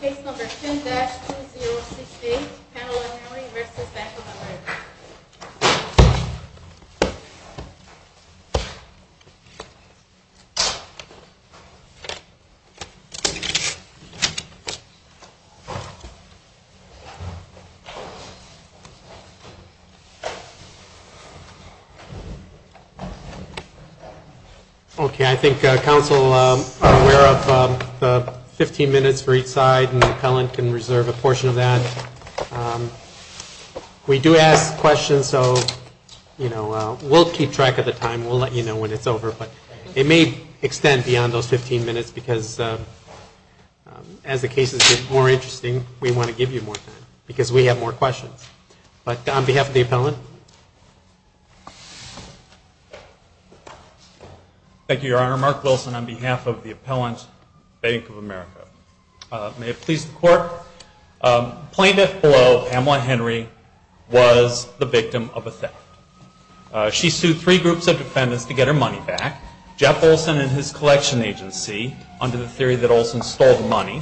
Case number 10-2068, Pamela Mallory v. Bank of America Okay, I think council are aware of the 15 minutes for each side and the appellant can reserve a portion of that. We do ask questions so, you know, we'll keep track of the time, we'll let you know when it's over but it may extend beyond those 15 minutes because as the cases get more interesting, we want to give you more time because we have more questions. But on behalf of the appellant. Thank you, Your Honor. Mark Wilson on behalf of the appellant, Bank of America. May it please the court. Plaintiff below, Pamela Henry, was the victim of a theft. She sued three groups of defendants to get her money back. Jeff Olson and his collection agency under the theory that Olson stole the money.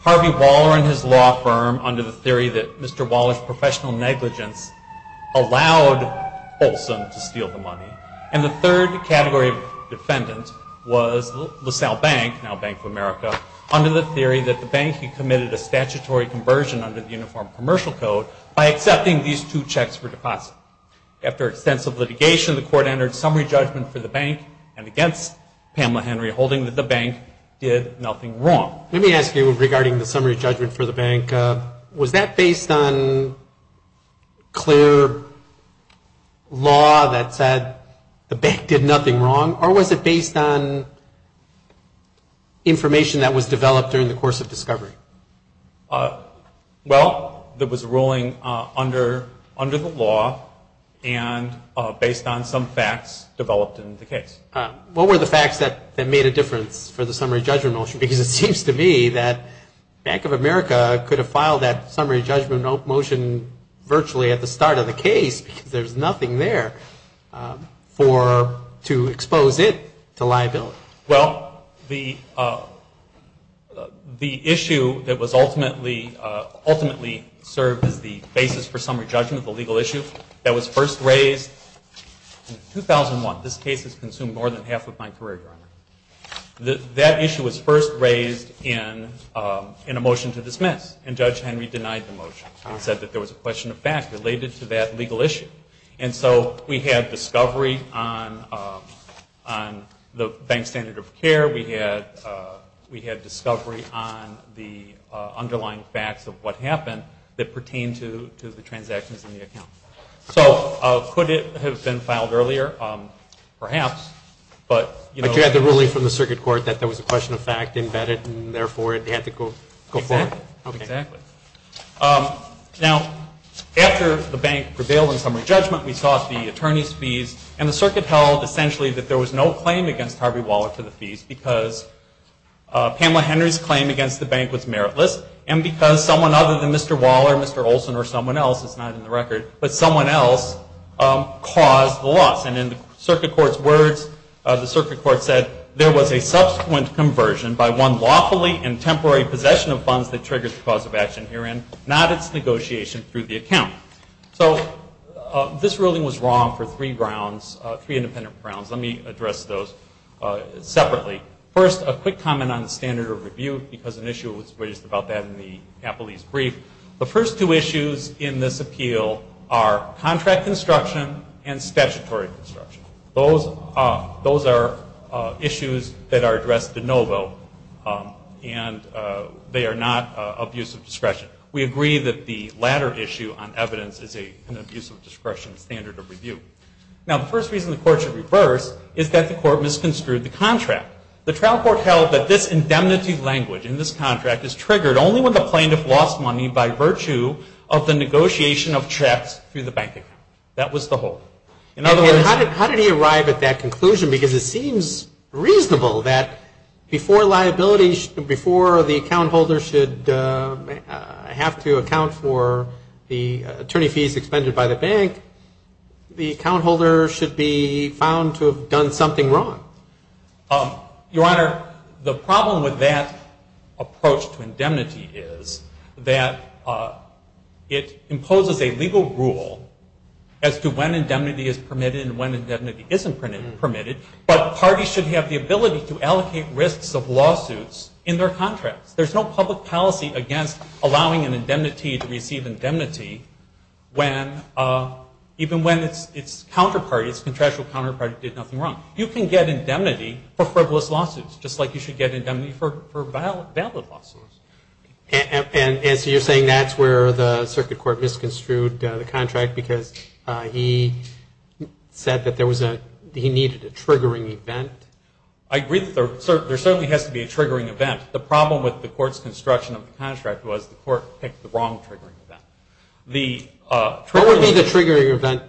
Harvey Waller and his law firm under the theory that Mr. Waller's professional negligence allowed Olson to steal the money. And the third category of defendant was LaSalle Bank, now Bank of America, under the theory that the bank had committed a statutory conversion under the Uniform Commercial Code by accepting these two checks for deposit. After extensive litigation, the court entered summary judgment for the bank and against Pamela Henry, holding that the bank did nothing wrong. Let me ask you regarding the summary judgment for the bank. Was that based on clear law that said the bank did nothing wrong or was it based on information that was developed during the course of discovery? Well, there was a ruling under the law and based on some facts developed in the case. What were the facts that made a difference for the summary judgment motion? Because it seems to me that Bank of America could have filed that summary judgment motion virtually at the start of the case because there's nothing there to expose it to liability. Well, the issue that was ultimately served as the basis for summary judgment, the legal issue, that was first raised in 2001. This case has consumed more than half of my career, Your Honor. That issue was first raised in a motion to dismiss and Judge Henry denied the motion and said that there was a question of fact related to that legal issue. And so we had discovery on the bank's standard of care. We had discovery on the underlying facts of what happened that pertained to the transactions in the account. So could it have been filed earlier? Perhaps. But you had the ruling from the circuit court that there was a question of fact embedded and therefore it had to go forward. Exactly. Now, after the bank prevailed in summary judgment, we sought the attorney's fees and the circuit held essentially that there was no claim against Harvey Waller for the fees because Pamela Henry's claim against the bank was meritless and because someone other than Mr. Waller, Mr. Olson, or someone else, it's not in the record, but someone else caused the loss. And in the circuit court's words, the circuit court said, there was a subsequent conversion by one lawfully and temporary possession of funds that triggered the cause of action herein, not its negotiation through the account. So this ruling was wrong for three grounds, three independent grounds. Let me address those separately. First, a quick comment on the standard of review because an issue was raised about that in the Capolese brief. The first two issues in this appeal are contract construction and statutory construction. Those are issues that are addressed de novo and they are not abuse of discretion. We agree that the latter issue on evidence is an abuse of discretion standard of review. Now, the first reason the court should reverse is that the court misconstrued the contract. The trial court held that this indemnity language in this contract is triggered only when the plaintiff lost money by virtue of the negotiation of checks through the bank account. That was the whole. In other words, how did he arrive at that conclusion? Because it seems reasonable that before liability, before the account holder should have to account for the attorney fees expended by the bank, the account holder should be found to have done something wrong. Your Honor, the problem with that approach to indemnity is that it imposes a legal rule as to when indemnity is permitted and when indemnity isn't permitted, but parties should have the ability to allocate risks of lawsuits in their contracts. There's no public policy against allowing an indemnity to receive indemnity when, even when its counterpart, its contractual counterpart did nothing wrong. You can get indemnity for frivolous lawsuits just like you should get indemnity for valid lawsuits. And so you're saying that's where the circuit court misconstrued the contract because he said that there was a, he needed a triggering event? I agree that there certainly has to be a triggering event. The problem with the court's construction of the contract was the court picked the wrong triggering event. What would be the triggering event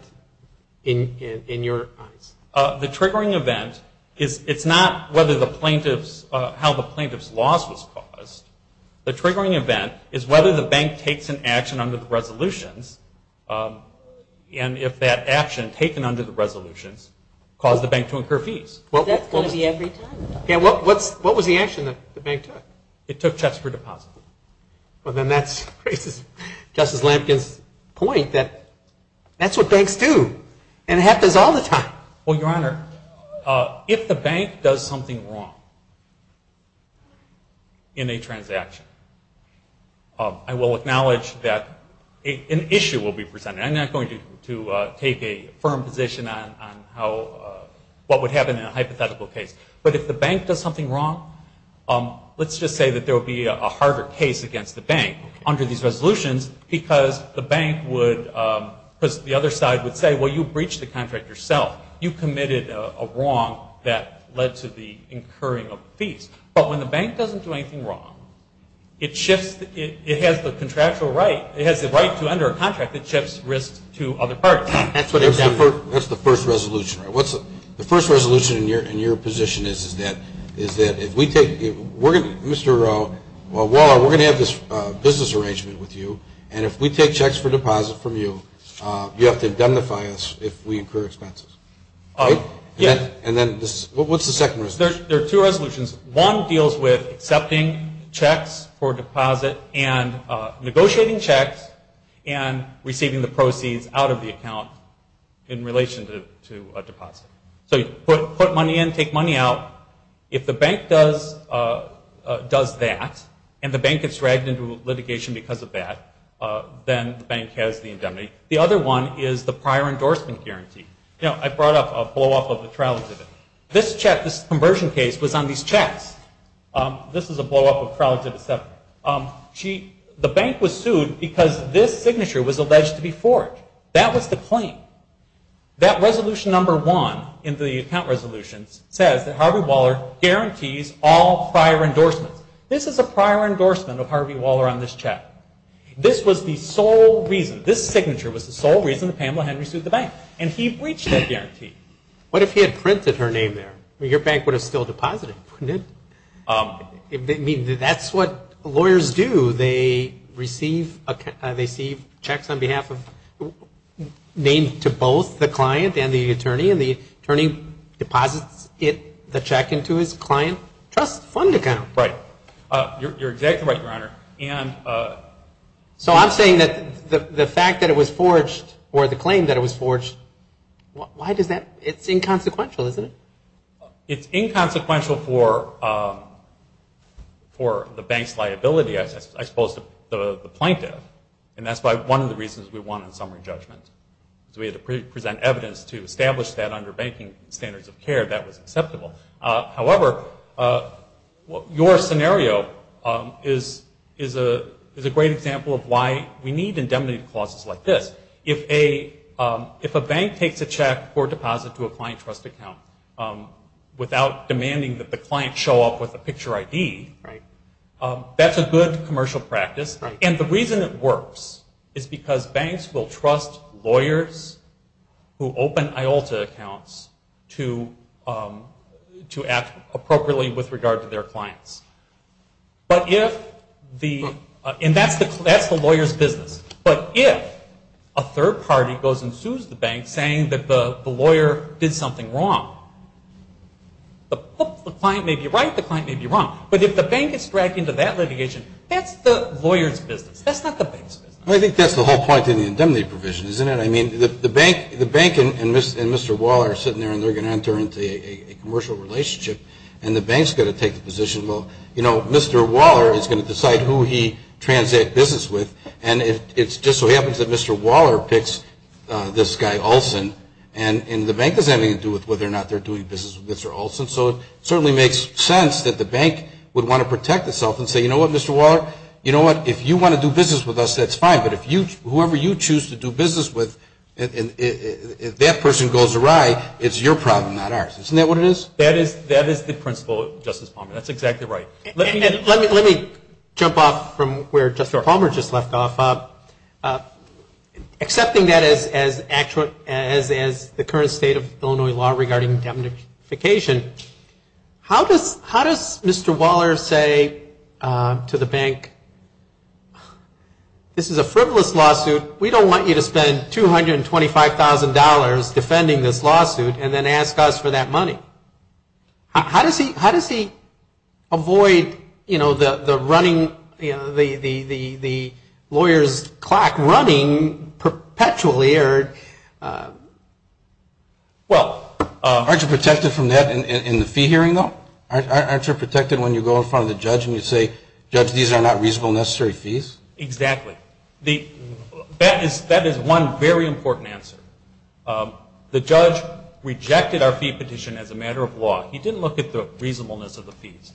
in your eyes? The triggering event is, it's not whether the plaintiff's, how the plaintiff's loss was caused. The triggering event is whether the bank takes an action under the resolutions and if that action taken under the resolutions caused the bank to incur fees. That's going to be every time. What was the action that the bank took? It took checks for deposits. Well, then that raises Justice Lampkin's point that that's what banks do and it happens all the time. Well, Your Honor, if the bank does something wrong in a transaction, I will acknowledge that an issue will be presented. I'm not going to take a firm position on how, what would happen in a hypothetical case. But if the bank does something wrong, let's just say that there will be a harder case against the bank under these resolutions because the bank would, because the other side would say, well, you breached the contract yourself. You committed a wrong that led to the incurring of fees. But when the bank doesn't do anything wrong, it shifts, it has the contractual right, it has the right to enter a contract that shifts risks to other parties. That's the first resolution, right? The first resolution in your position is that if we take, Mr. Waller, we're going to have this business arrangement with you, and if we take checks for deposit from you, you have to indemnify us if we incur expenses. Right? And then what's the second resolution? There are two resolutions. One deals with accepting checks for deposit and negotiating checks and receiving the proceeds out of the account in relation to a deposit. So you put money in, take money out. If the bank does that and the bank gets dragged into litigation because of that, then the bank has the indemnity. The other one is the prior endorsement guarantee. You know, I brought up a blow-off of the trial exhibit. This check, this conversion case was on these checks. This is a blow-off of trial exhibit 7. The bank was sued because this signature was alleged to be forged. That was the claim. That resolution number 1 in the account resolution says that Harvey Waller guarantees all prior endorsements. This is a prior endorsement of Harvey Waller on this check. This was the sole reason. This signature was the sole reason that Pamela Henry sued the bank, and he breached that guarantee. What if he had printed her name there? Your bank would have still deposited, wouldn't it? That's what lawyers do. They receive checks named to both the client and the attorney, and the attorney deposits the check into his client trust fund account. Right. You're exactly right, Your Honor. So I'm saying that the fact that it was forged, or the claim that it was forged, why does that – it's inconsequential, isn't it? It's inconsequential for the bank's liability as opposed to the plaintiff, and that's one of the reasons we wanted summary judgment. We had to present evidence to establish that under banking standards of care that was acceptable. However, your scenario is a great example of why we need indemnity clauses like this. If a bank takes a check or deposit to a client trust account without demanding that the client show up with a picture ID, that's a good commercial practice. And the reason it works is because banks will trust lawyers who open IOLTA accounts to act appropriately with regard to their clients. But if the – and that's the lawyer's business. But if a third party goes and sues the bank saying that the lawyer did something wrong, the client may be right, the client may be wrong. But if the bank gets dragged into that litigation, that's the lawyer's business. That's not the bank's business. Well, I think that's the whole point in the indemnity provision, isn't it? I mean, the bank and Mr. Waller are sitting there, and they're going to enter into a commercial relationship, and the bank's going to take the position, well, you know, Mr. Waller is going to decide who he transacts business with, and it just so happens that Mr. Waller picks this guy Olson, and the bank has nothing to do with whether or not they're doing business with Mr. Olson. So it certainly makes sense that the bank would want to protect itself and say, you know what, Mr. Waller, you know what, if you want to do business with us, that's fine, but whoever you choose to do business with, if that person goes awry, it's your problem, not ours. Isn't that what it is? That is the principle, Justice Palmer. That's exactly right. Let me jump off from where Justice Palmer just left off. Accepting that as the current state of Illinois law regarding indemnification, how does Mr. Waller say to the bank, this is a frivolous lawsuit, we don't want you to spend $225,000 defending this lawsuit, and then ask us for that money. How does he avoid, you know, the running, the lawyer's clock running perpetually? Well, aren't you protected from that in the fee hearing, though? Aren't you protected when you go in front of the judge and you say, judge, these are not reasonable necessary fees? Exactly. That is one very important answer. The judge rejected our fee petition as a matter of law. He didn't look at the reasonableness of the fees.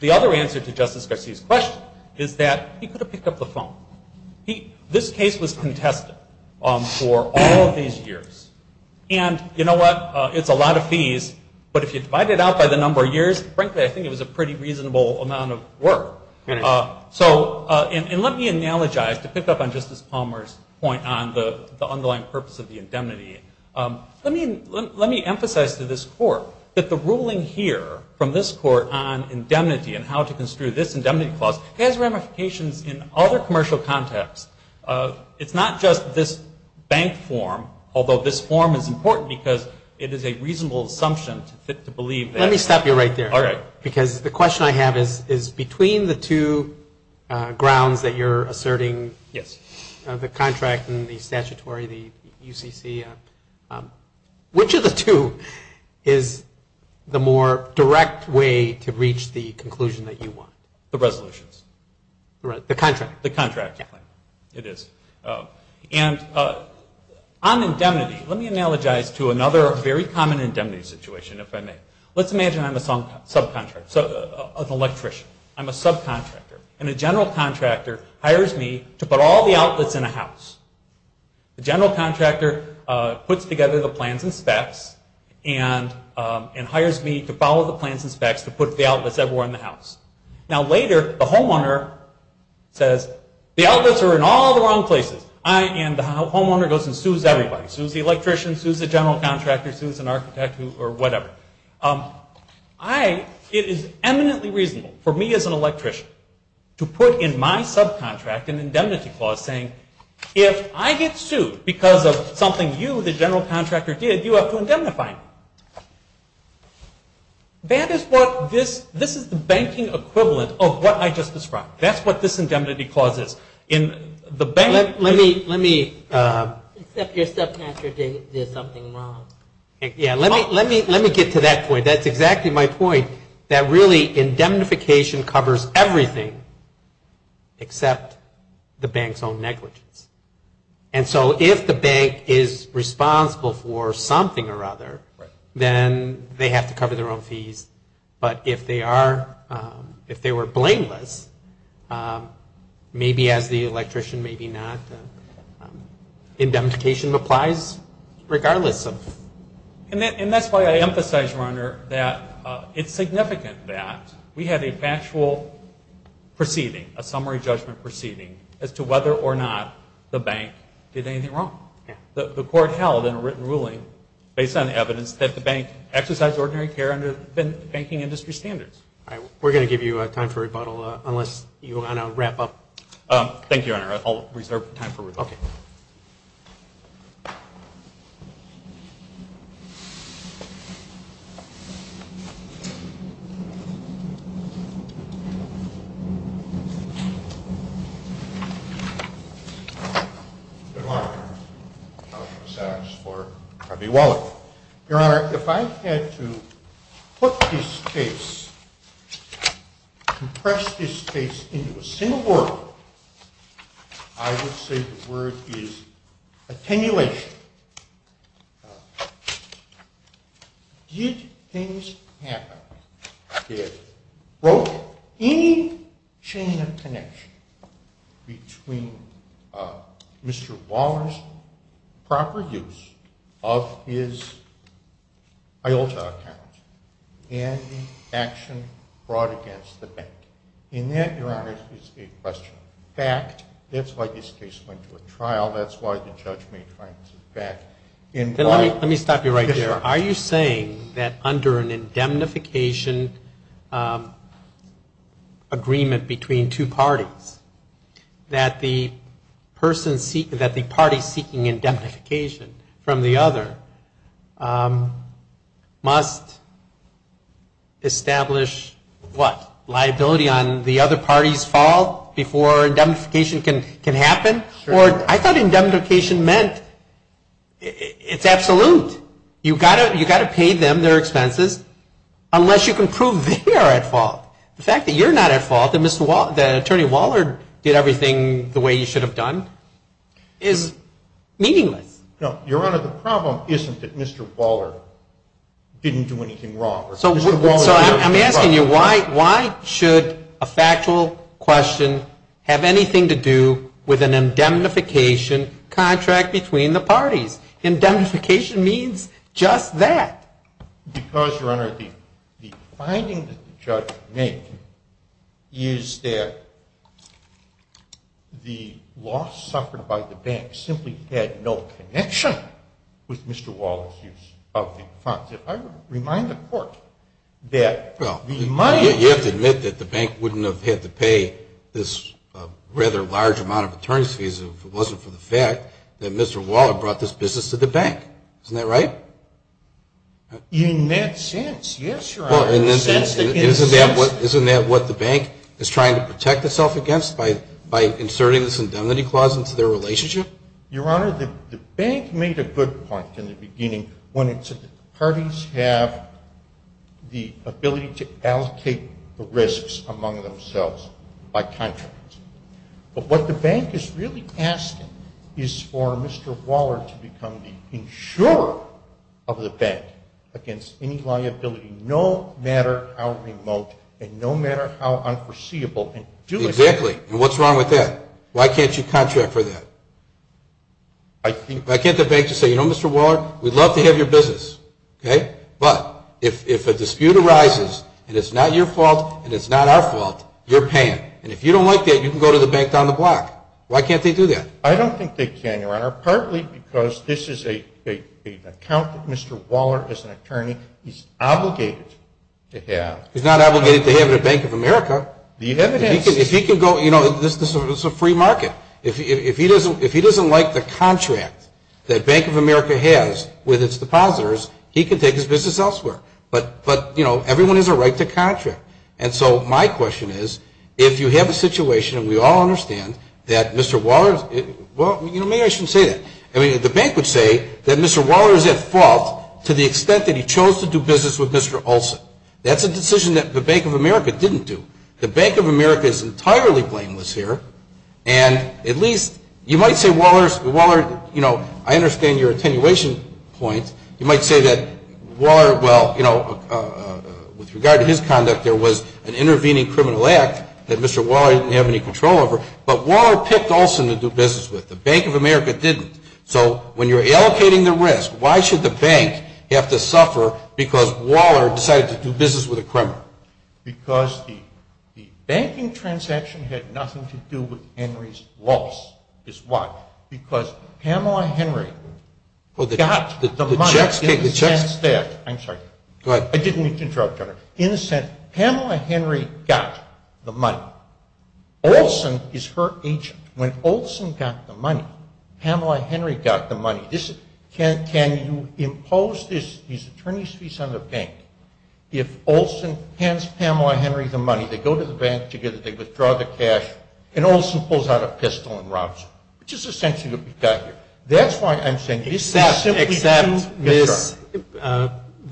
The other answer to Justice Garcia's question is that he could have picked up the phone. This case was contested for all of these years. And you know what? It's a lot of fees, but if you divide it out by the number of years, frankly, I think it was a pretty reasonable amount of work. And let me analogize, to pick up on Justice Palmer's point on the underlying purpose of the indemnity. Let me emphasize to this Court that the ruling here from this Court on indemnity and how to construe this indemnity clause has ramifications in other commercial contexts. It's not just this bank form, although this form is important because it is a reasonable assumption to believe that. Let me stop you right there. All right. Because the question I have is, between the two grounds that you're asserting, the contract and the statutory, the UCC, which of the two is the more direct way to reach the conclusion that you want? The resolutions. The contract. The contract. It is. And on indemnity, let me analogize to another very common indemnity situation, if I may. Let's imagine I'm a subcontractor, an electrician. I'm a subcontractor. And a general contractor hires me to put all the outlets in a house. The general contractor puts together the plans and specs and hires me to follow the plans and specs to put the outlets everywhere in the house. Now later, the homeowner says, the outlets are in all the wrong places. And the homeowner goes and sues everybody. Sues the electrician, sues the general contractor, sues an architect or whatever. It is eminently reasonable for me as an electrician to put in my subcontract an indemnity clause saying, if I get sued because of something you, the general contractor, did, you have to indemnify me. This is the banking equivalent of what I just described. That's what this indemnity clause is. Let me... Except you're a subcontractor, there's something wrong. Yeah, let me get to that point. That's exactly my point, that really indemnification covers everything except the bank's own negligence. And so if the bank is responsible for something or other, then they have to cover their own fees. But if they are, if they were blameless, maybe as the electrician, maybe not, indemnification applies regardless of... And that's why I emphasize, Rohner, that it's significant that we had a factual proceeding, a summary judgment proceeding, as to whether or not the bank did anything wrong. The court held in a written ruling, based on the evidence, that the bank exercised ordinary care under banking industry standards. All right. We're going to give you time for rebuttal, unless you want to wrap up. Thank you, Rohner. I'll reserve time for rebuttal. Okay. Good morning. I'll just ask for Harvey Waller. Your Honor, if I had to put this case, compress this case into a single word, I would say the word is attenuation. Did things happen that broke any chain of connection between Mr. Waller's proper use of his IULTA account and the action brought against the bank? And that, Your Honor, is a question of fact. That's why this case went to a trial. That's why the judgment went to fact. Let me stop you right there. Are you saying that under an indemnification agreement between two parties, that the party seeking indemnification from the other must establish what? Liability on the other party's fault before indemnification can happen? Sure. I thought indemnification meant it's absolute. You've got to pay them their expenses, unless you can prove they are at fault. The fact that you're not at fault, that Attorney Waller did everything the way he should have done, is meaningless. Your Honor, the problem isn't that Mr. Waller didn't do anything wrong. So I'm asking you, why should a factual question have anything to do with an indemnification contract between the parties? Indemnification means just that. Because, Your Honor, the finding that the judge made is that the loss suffered by the bank simply had no connection with Mr. Waller's use of the funds. You have to admit that the bank wouldn't have had to pay this rather large amount of attorney's fees if it wasn't for the fact that Mr. Waller brought this business to the bank. Isn't that right? In that sense, yes, Your Honor. Isn't that what the bank is trying to protect itself against, by inserting this indemnity clause into their relationship? Your Honor, the bank made a good point in the beginning when it said that the parties have the ability to allocate the risks among themselves by contract. But what the bank is really asking is for Mr. Waller to become the insurer of the bank against any liability, no matter how remote and no matter how unforeseeable. Exactly. And what's wrong with that? Why can't you contract for that? Why can't the bank just say, you know, Mr. Waller, we'd love to have your business, okay? But if a dispute arises and it's not your fault and it's not our fault, you're paying. And if you don't like that, you can go to the bank down the block. Why can't they do that? I don't think they can, Your Honor, partly because this is an account that Mr. Waller, as an attorney, is obligated to have. He's not obligated to have it at Bank of America. The evidence. If he can go, you know, this is a free market. If he doesn't like the contract that Bank of America has with its depositors, he can take his business elsewhere. But, you know, everyone has a right to contract. And so my question is, if you have a situation, and we all understand that Mr. Waller, well, maybe I shouldn't say that. I mean, the bank would say that Mr. Waller is at fault to the extent that he chose to do business with Mr. Olson. That's a decision that the Bank of America didn't do. The Bank of America is entirely blameless here. And at least you might say Waller, you know, I understand your attenuation point. You might say that Waller, well, you know, with regard to his conduct, there was an intervening criminal act that Mr. Waller didn't have any control over. But Waller picked Olson to do business with. The Bank of America didn't. So when you're allocating the risk, why should the bank have to suffer because Waller decided to do business with a criminal? Because the banking transaction had nothing to do with Henry's loss. It's why. Because Pamela Henry got the money in the sense that, I'm sorry. Go ahead. I didn't mean to interrupt you. In the sense, Pamela Henry got the money. Olson is her agent. When Olson got the money, Pamela Henry got the money. Can you impose these attorney's fees on the bank? If Olson hands Pamela Henry the money, they go to the bank together, they withdraw the cash, and Olson pulls out a pistol and robs her, which is essentially what we've got here. That's why I'm saying this simply happens. Except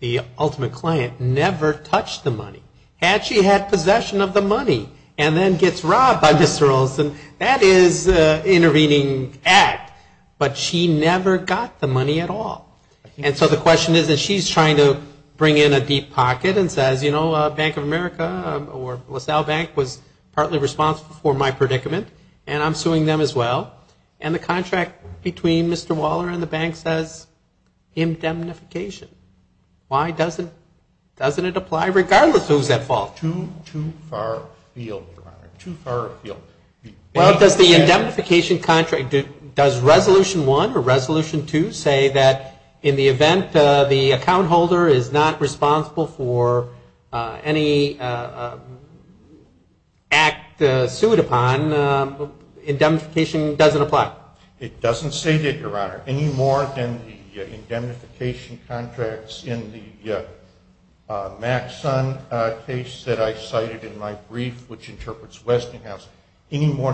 the ultimate client never touched the money. Had she had possession of the money and then gets robbed by Mr. Olson, that is an intervening act. But she never got the money at all. And so the question is that she's trying to bring in a deep pocket and says, you know, Bank of America or LaSalle Bank was partly responsible for my predicament, and I'm suing them as well. And the contract between Mr. Waller and the bank says indemnification. Why doesn't it apply regardless of who's at fault? Too far afield. Well, does the indemnification contract, does Resolution 1 or Resolution 2 say that in the event the account holder is not responsible for any act sued upon, indemnification doesn't apply? It doesn't say that, Your Honor, any more than the indemnification contracts in the Maxon case that I cited in my brief, which interprets Westinghouse, any more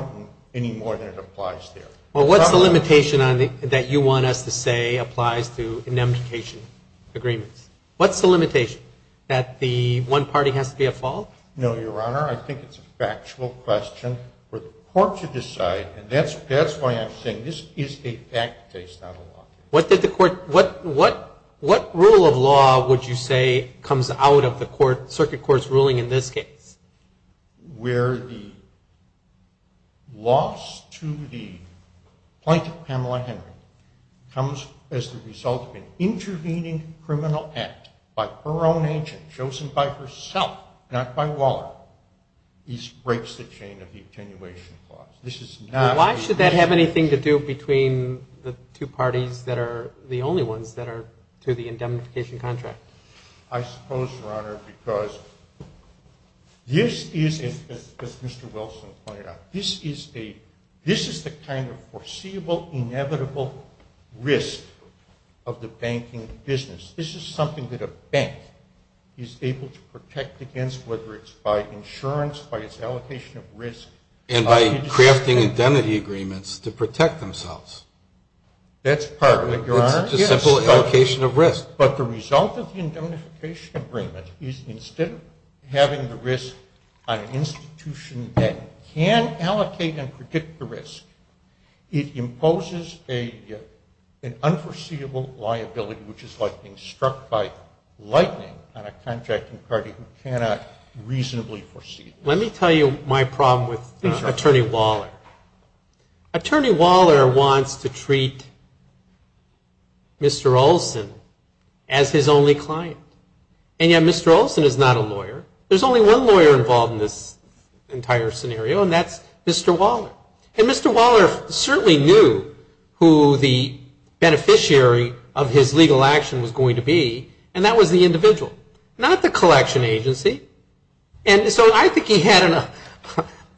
than it applies there. Well, what's the limitation that you want us to say applies to indemnification agreements? What's the limitation, that the one party has to be at fault? No, Your Honor, I think it's a factual question for the court to decide, and that's why I'm saying this is a fact case, not a law case. What rule of law would you say comes out of the circuit court's ruling in this case? Where the loss to the plaintiff, Pamela Henry, comes as the result of an intervening criminal act by her own agent, chosen by herself, not by Waller, breaks the chain of the attenuation clause. Why should that have anything to do between the two parties that are the only ones that are to the indemnification contract? I suppose, Your Honor, because this is, as Mr. Wilson pointed out, this is the kind of foreseeable, inevitable risk of the banking business. This is something that a bank is able to protect against, whether it's by insurance, by its allocation of risk. And by crafting indemnity agreements to protect themselves. That's part of it, Your Honor. It's such a simple allocation of risk. But the result of the indemnification agreement is, instead of having the risk on an institution that can allocate and predict the risk, it imposes an unforeseeable liability, which is like being struck by lightning on a contracting party who cannot reasonably foresee. Let me tell you my problem with Attorney Waller. Attorney Waller wants to treat Mr. Olson as his only client. And yet Mr. Olson is not a lawyer. There's only one lawyer involved in this entire scenario, and that's Mr. Waller. And Mr. Waller certainly knew who the beneficiary of his legal action was going to be, and that was the individual, not the collection agency. And so I think he had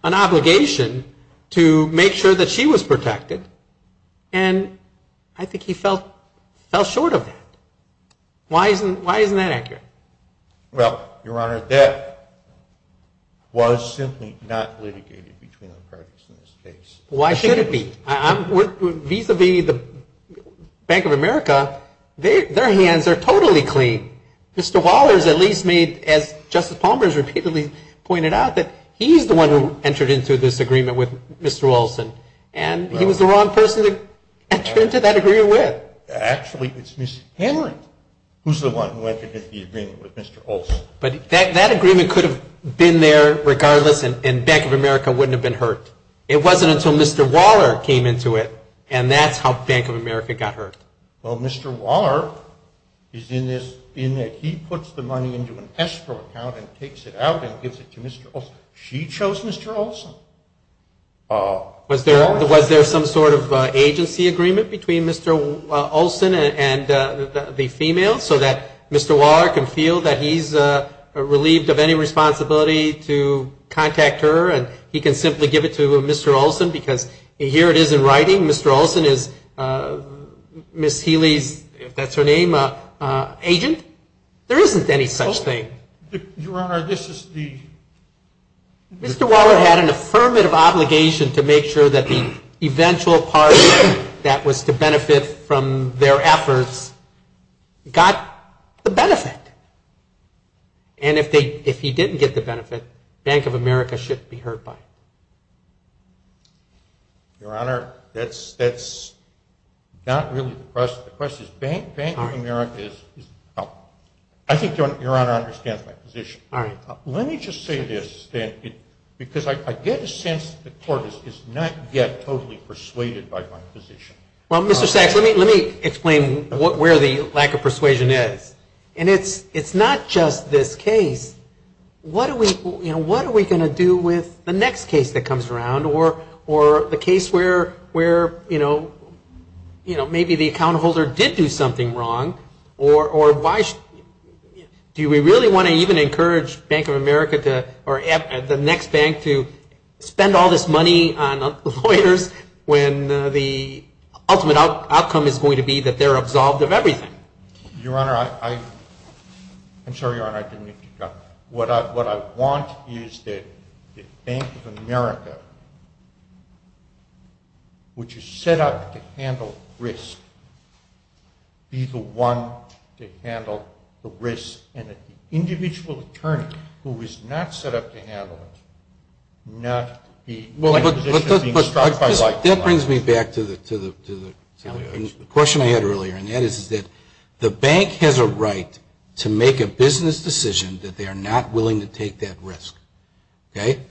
an obligation to make sure that she was protected, and I think he fell short of that. Why isn't that accurate? Well, Your Honor, that was simply not litigated between the parties in this case. Why should it be? Vis-a-vis the Bank of America, their hands are totally clean. Mr. Waller has at least made, as Justice Palmer has repeatedly pointed out, that he's the one who entered into this agreement with Mr. Olson, and he was the wrong person to enter into that agreement with. Actually, it's Ms. Henry who's the one who entered into the agreement with Mr. Olson. But that agreement could have been there regardless, and Bank of America wouldn't have been hurt. It wasn't until Mr. Waller came into it, and that's how Bank of America got hurt. Well, Mr. Waller is in this, in that he puts the money into an escrow account and takes it out and gives it to Mr. Olson. She chose Mr. Olson. Was there some sort of agency agreement between Mr. Olson and the female so that Mr. Waller can feel that he's relieved of any responsibility to contact her and he can simply give it to Mr. Olson because here it is in writing, Mr. Olson is Ms. Healy's, if that's her name, agent? There isn't any such thing. Your Honor, this is the... Mr. Waller had an affirmative obligation to make sure that the eventual party that was to benefit from their efforts got the benefit. And if he didn't get the benefit, Bank of America shouldn't be hurt by it. Your Honor, that's not really the question. The question is Bank of America is the problem. I think Your Honor understands my position. All right. Let me just say this, Stan, because I get a sense that the Court has not yet totally persuaded by my position. Well, Mr. Sachs, let me explain where the lack of persuasion is. And it's not just this case. What are we going to do with the next case that comes around or the case where maybe the account holder did do something wrong or do we really want to even encourage Bank of America or the next bank to spend all this money on lawyers when the ultimate outcome is going to be that they're absolved of everything? Your Honor, I'm sorry, Your Honor, I didn't get you. What I want is that Bank of America, which is set up to handle risk, be the one to handle the risk and that the individual attorney who is not set up to handle it, not be in a position of being struck by light. That brings me back to the question I had earlier, and that is that the bank has a right to make a business decision that they are not willing to take that risk.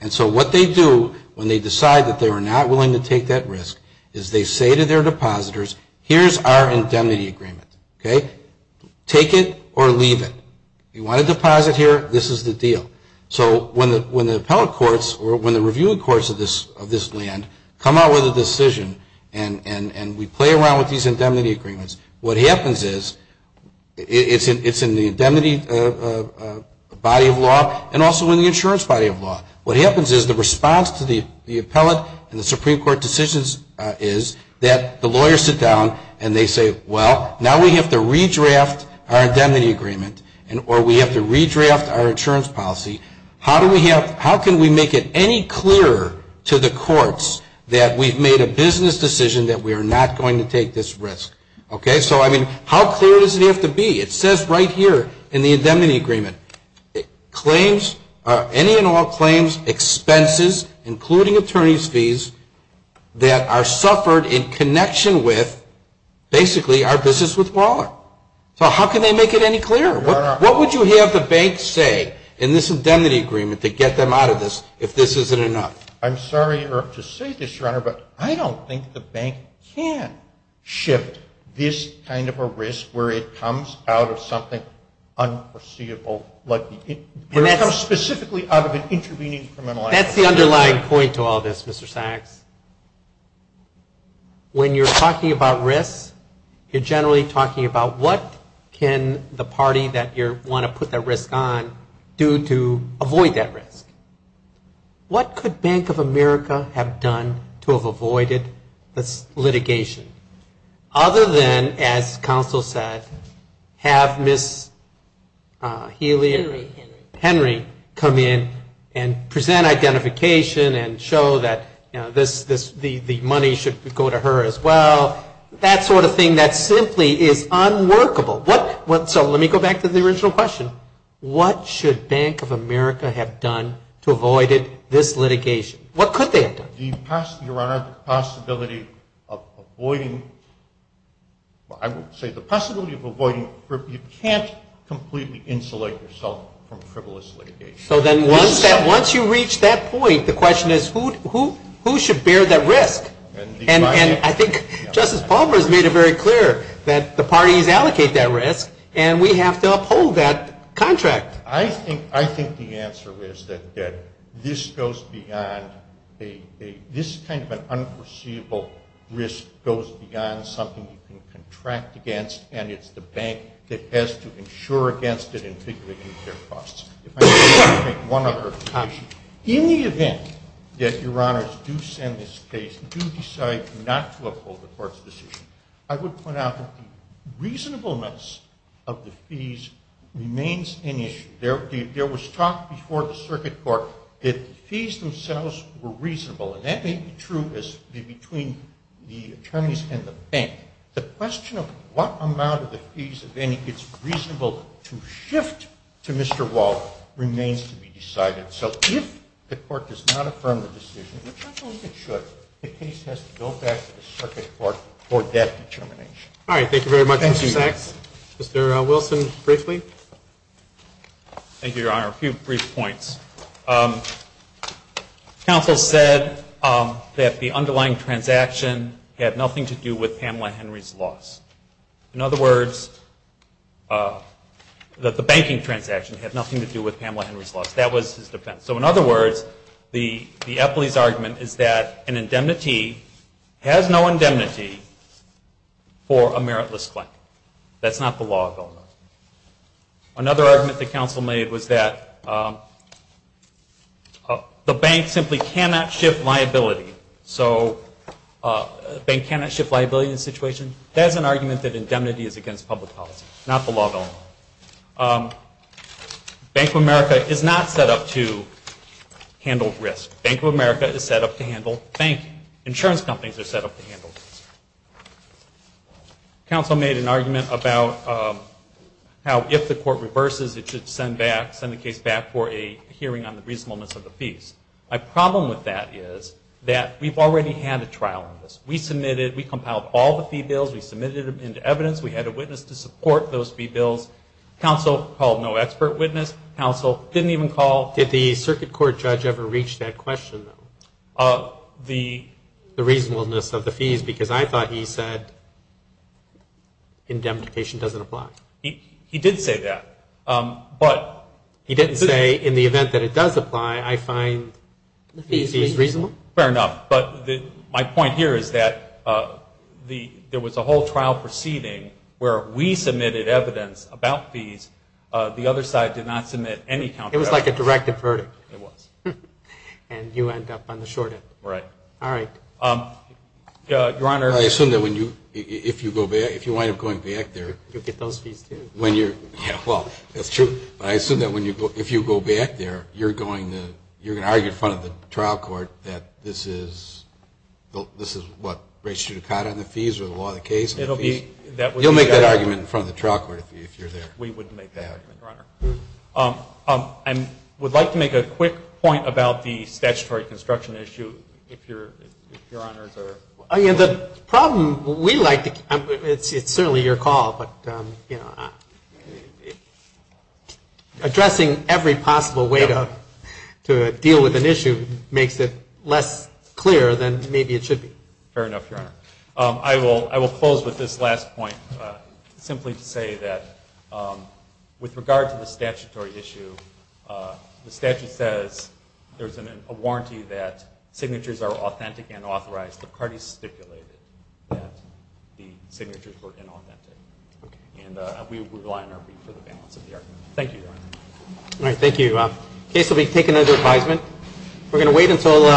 And so what they do when they decide that they are not willing to take that risk is they say to their depositors, here's our indemnity agreement, okay? Take it or leave it. You want to deposit here, this is the deal. So when the appellate courts or when the reviewing courts of this land come out with a decision and we play around with these indemnity agreements, what happens is it's in the indemnity body of law and also in the insurance body of law. What happens is the response to the appellate and the Supreme Court decisions is that the lawyers sit down and they say, well, now we have to redraft our indemnity agreement or we have to redraft our insurance policy. How can we make it any clearer to the courts that we've made a business decision that we are not going to take this risk? Okay? So, I mean, how clear does it have to be? It says right here in the indemnity agreement, claims, any and all claims, expenses, including attorney's fees, that are suffered in connection with basically our business with Waller. So how can they make it any clearer? What would you have the bank say in this indemnity agreement to get them out of this if this isn't enough? I'm sorry to say this, Your Honor, but I don't think the bank can shift this kind of a risk where it comes out of something unforeseeable, where it comes specifically out of an intervening criminal act. That's the underlying point to all this, Mr. Sachs. When you're talking about risk, you're generally talking about what can the party that you want to put that risk on do to avoid that risk. What could Bank of America have done to have avoided this litigation? Other than, as counsel said, have Ms. Helia Henry come in and present identification and show that the money should go to her as well, that sort of thing that simply is unworkable. So let me go back to the original question. What should Bank of America have done to avoid this litigation? What could they have done? Your Honor, the possibility of avoiding, I would say the possibility of avoiding, you can't completely insulate yourself from frivolous litigation. So then once you reach that point, the question is who should bear that risk? And I think Justice Palmer has made it very clear that the parties allocate that risk, and we have to uphold that contract. I think the answer is that this goes beyond a – this kind of an unforeseeable risk goes beyond something you can contract against, and it's the bank that has to insure against it and figure out their costs. In the event that, Your Honors, you send this case, you decide not to uphold the court's decision, I would point out that the reasonableness of the fees remains an issue. There was talk before the circuit court that the fees themselves were reasonable, and that may be true between the attorneys and the bank. The question of what amount of the fees, if any, is reasonable to shift to Mr. Wall remains to be decided. So if the court does not affirm the decision, which I believe it should, the case has to go back to the circuit court for that determination. All right, thank you very much, Mr. Sachs. Mr. Wilson, briefly. Thank you, Your Honor. A few brief points. Counsel said that the underlying transaction had nothing to do with Pamela Henry's loss. In other words, that the banking transaction had nothing to do with Pamela Henry's loss. That was his defense. So in other words, the Epley's argument is that an indemnity has no indemnity for a meritless claim. That's not the law of Illinois. Another argument that counsel made was that the bank simply cannot shift liability. So a bank cannot shift liability in a situation? That is an argument that indemnity is against public policy, not the law of Illinois. Bank of America is not set up to handle risk. Bank of America is set up to handle banking. Insurance companies are set up to handle risk. Counsel made an argument about how if the court reverses, it should send the case back for a hearing on the reasonableness of the fees. My problem with that is that we've already had a trial on this. We submitted, we compiled all the fee bills, we submitted them into evidence, we had a witness to support those fee bills. Counsel called no expert witness. Counsel didn't even call. Did the circuit court judge ever reach that question, though? The reasonableness of the fees because I thought he said indemnification doesn't apply. He did say that. He didn't say in the event that it does apply, I find the fees reasonable? Fair enough. But my point here is that there was a whole trial proceeding where we submitted evidence about fees, the other side did not submit any counter evidence. It was like a directive verdict. It was. And you end up on the short end. Right. All right. Your Honor. I assume that if you wind up going back there. You'll get those fees, too. Well, that's true. But I assume that if you go back there, you're going to argue in front of the trial court that this is what rates you to cot on the fees or the law of the case. You'll make that argument in front of the trial court if you're there. We wouldn't make that argument, Your Honor. I would like to make a quick point about the statutory construction issue if Your Honors are. The problem we like to, it's certainly your call, but, you know, addressing every possible way to deal with an issue makes it less clear than maybe it should be. Fair enough, Your Honor. I will close with this last point simply to say that with regard to the statutory issue, the statute says there's a warranty that signatures are authentic and authorized. The parties stipulated that the signatures were inauthentic. Okay. And we rely on our brief for the balance of the argument. Thank you, Your Honor. All right. Thank you. The case will be taken under advisement. We're going to wait until.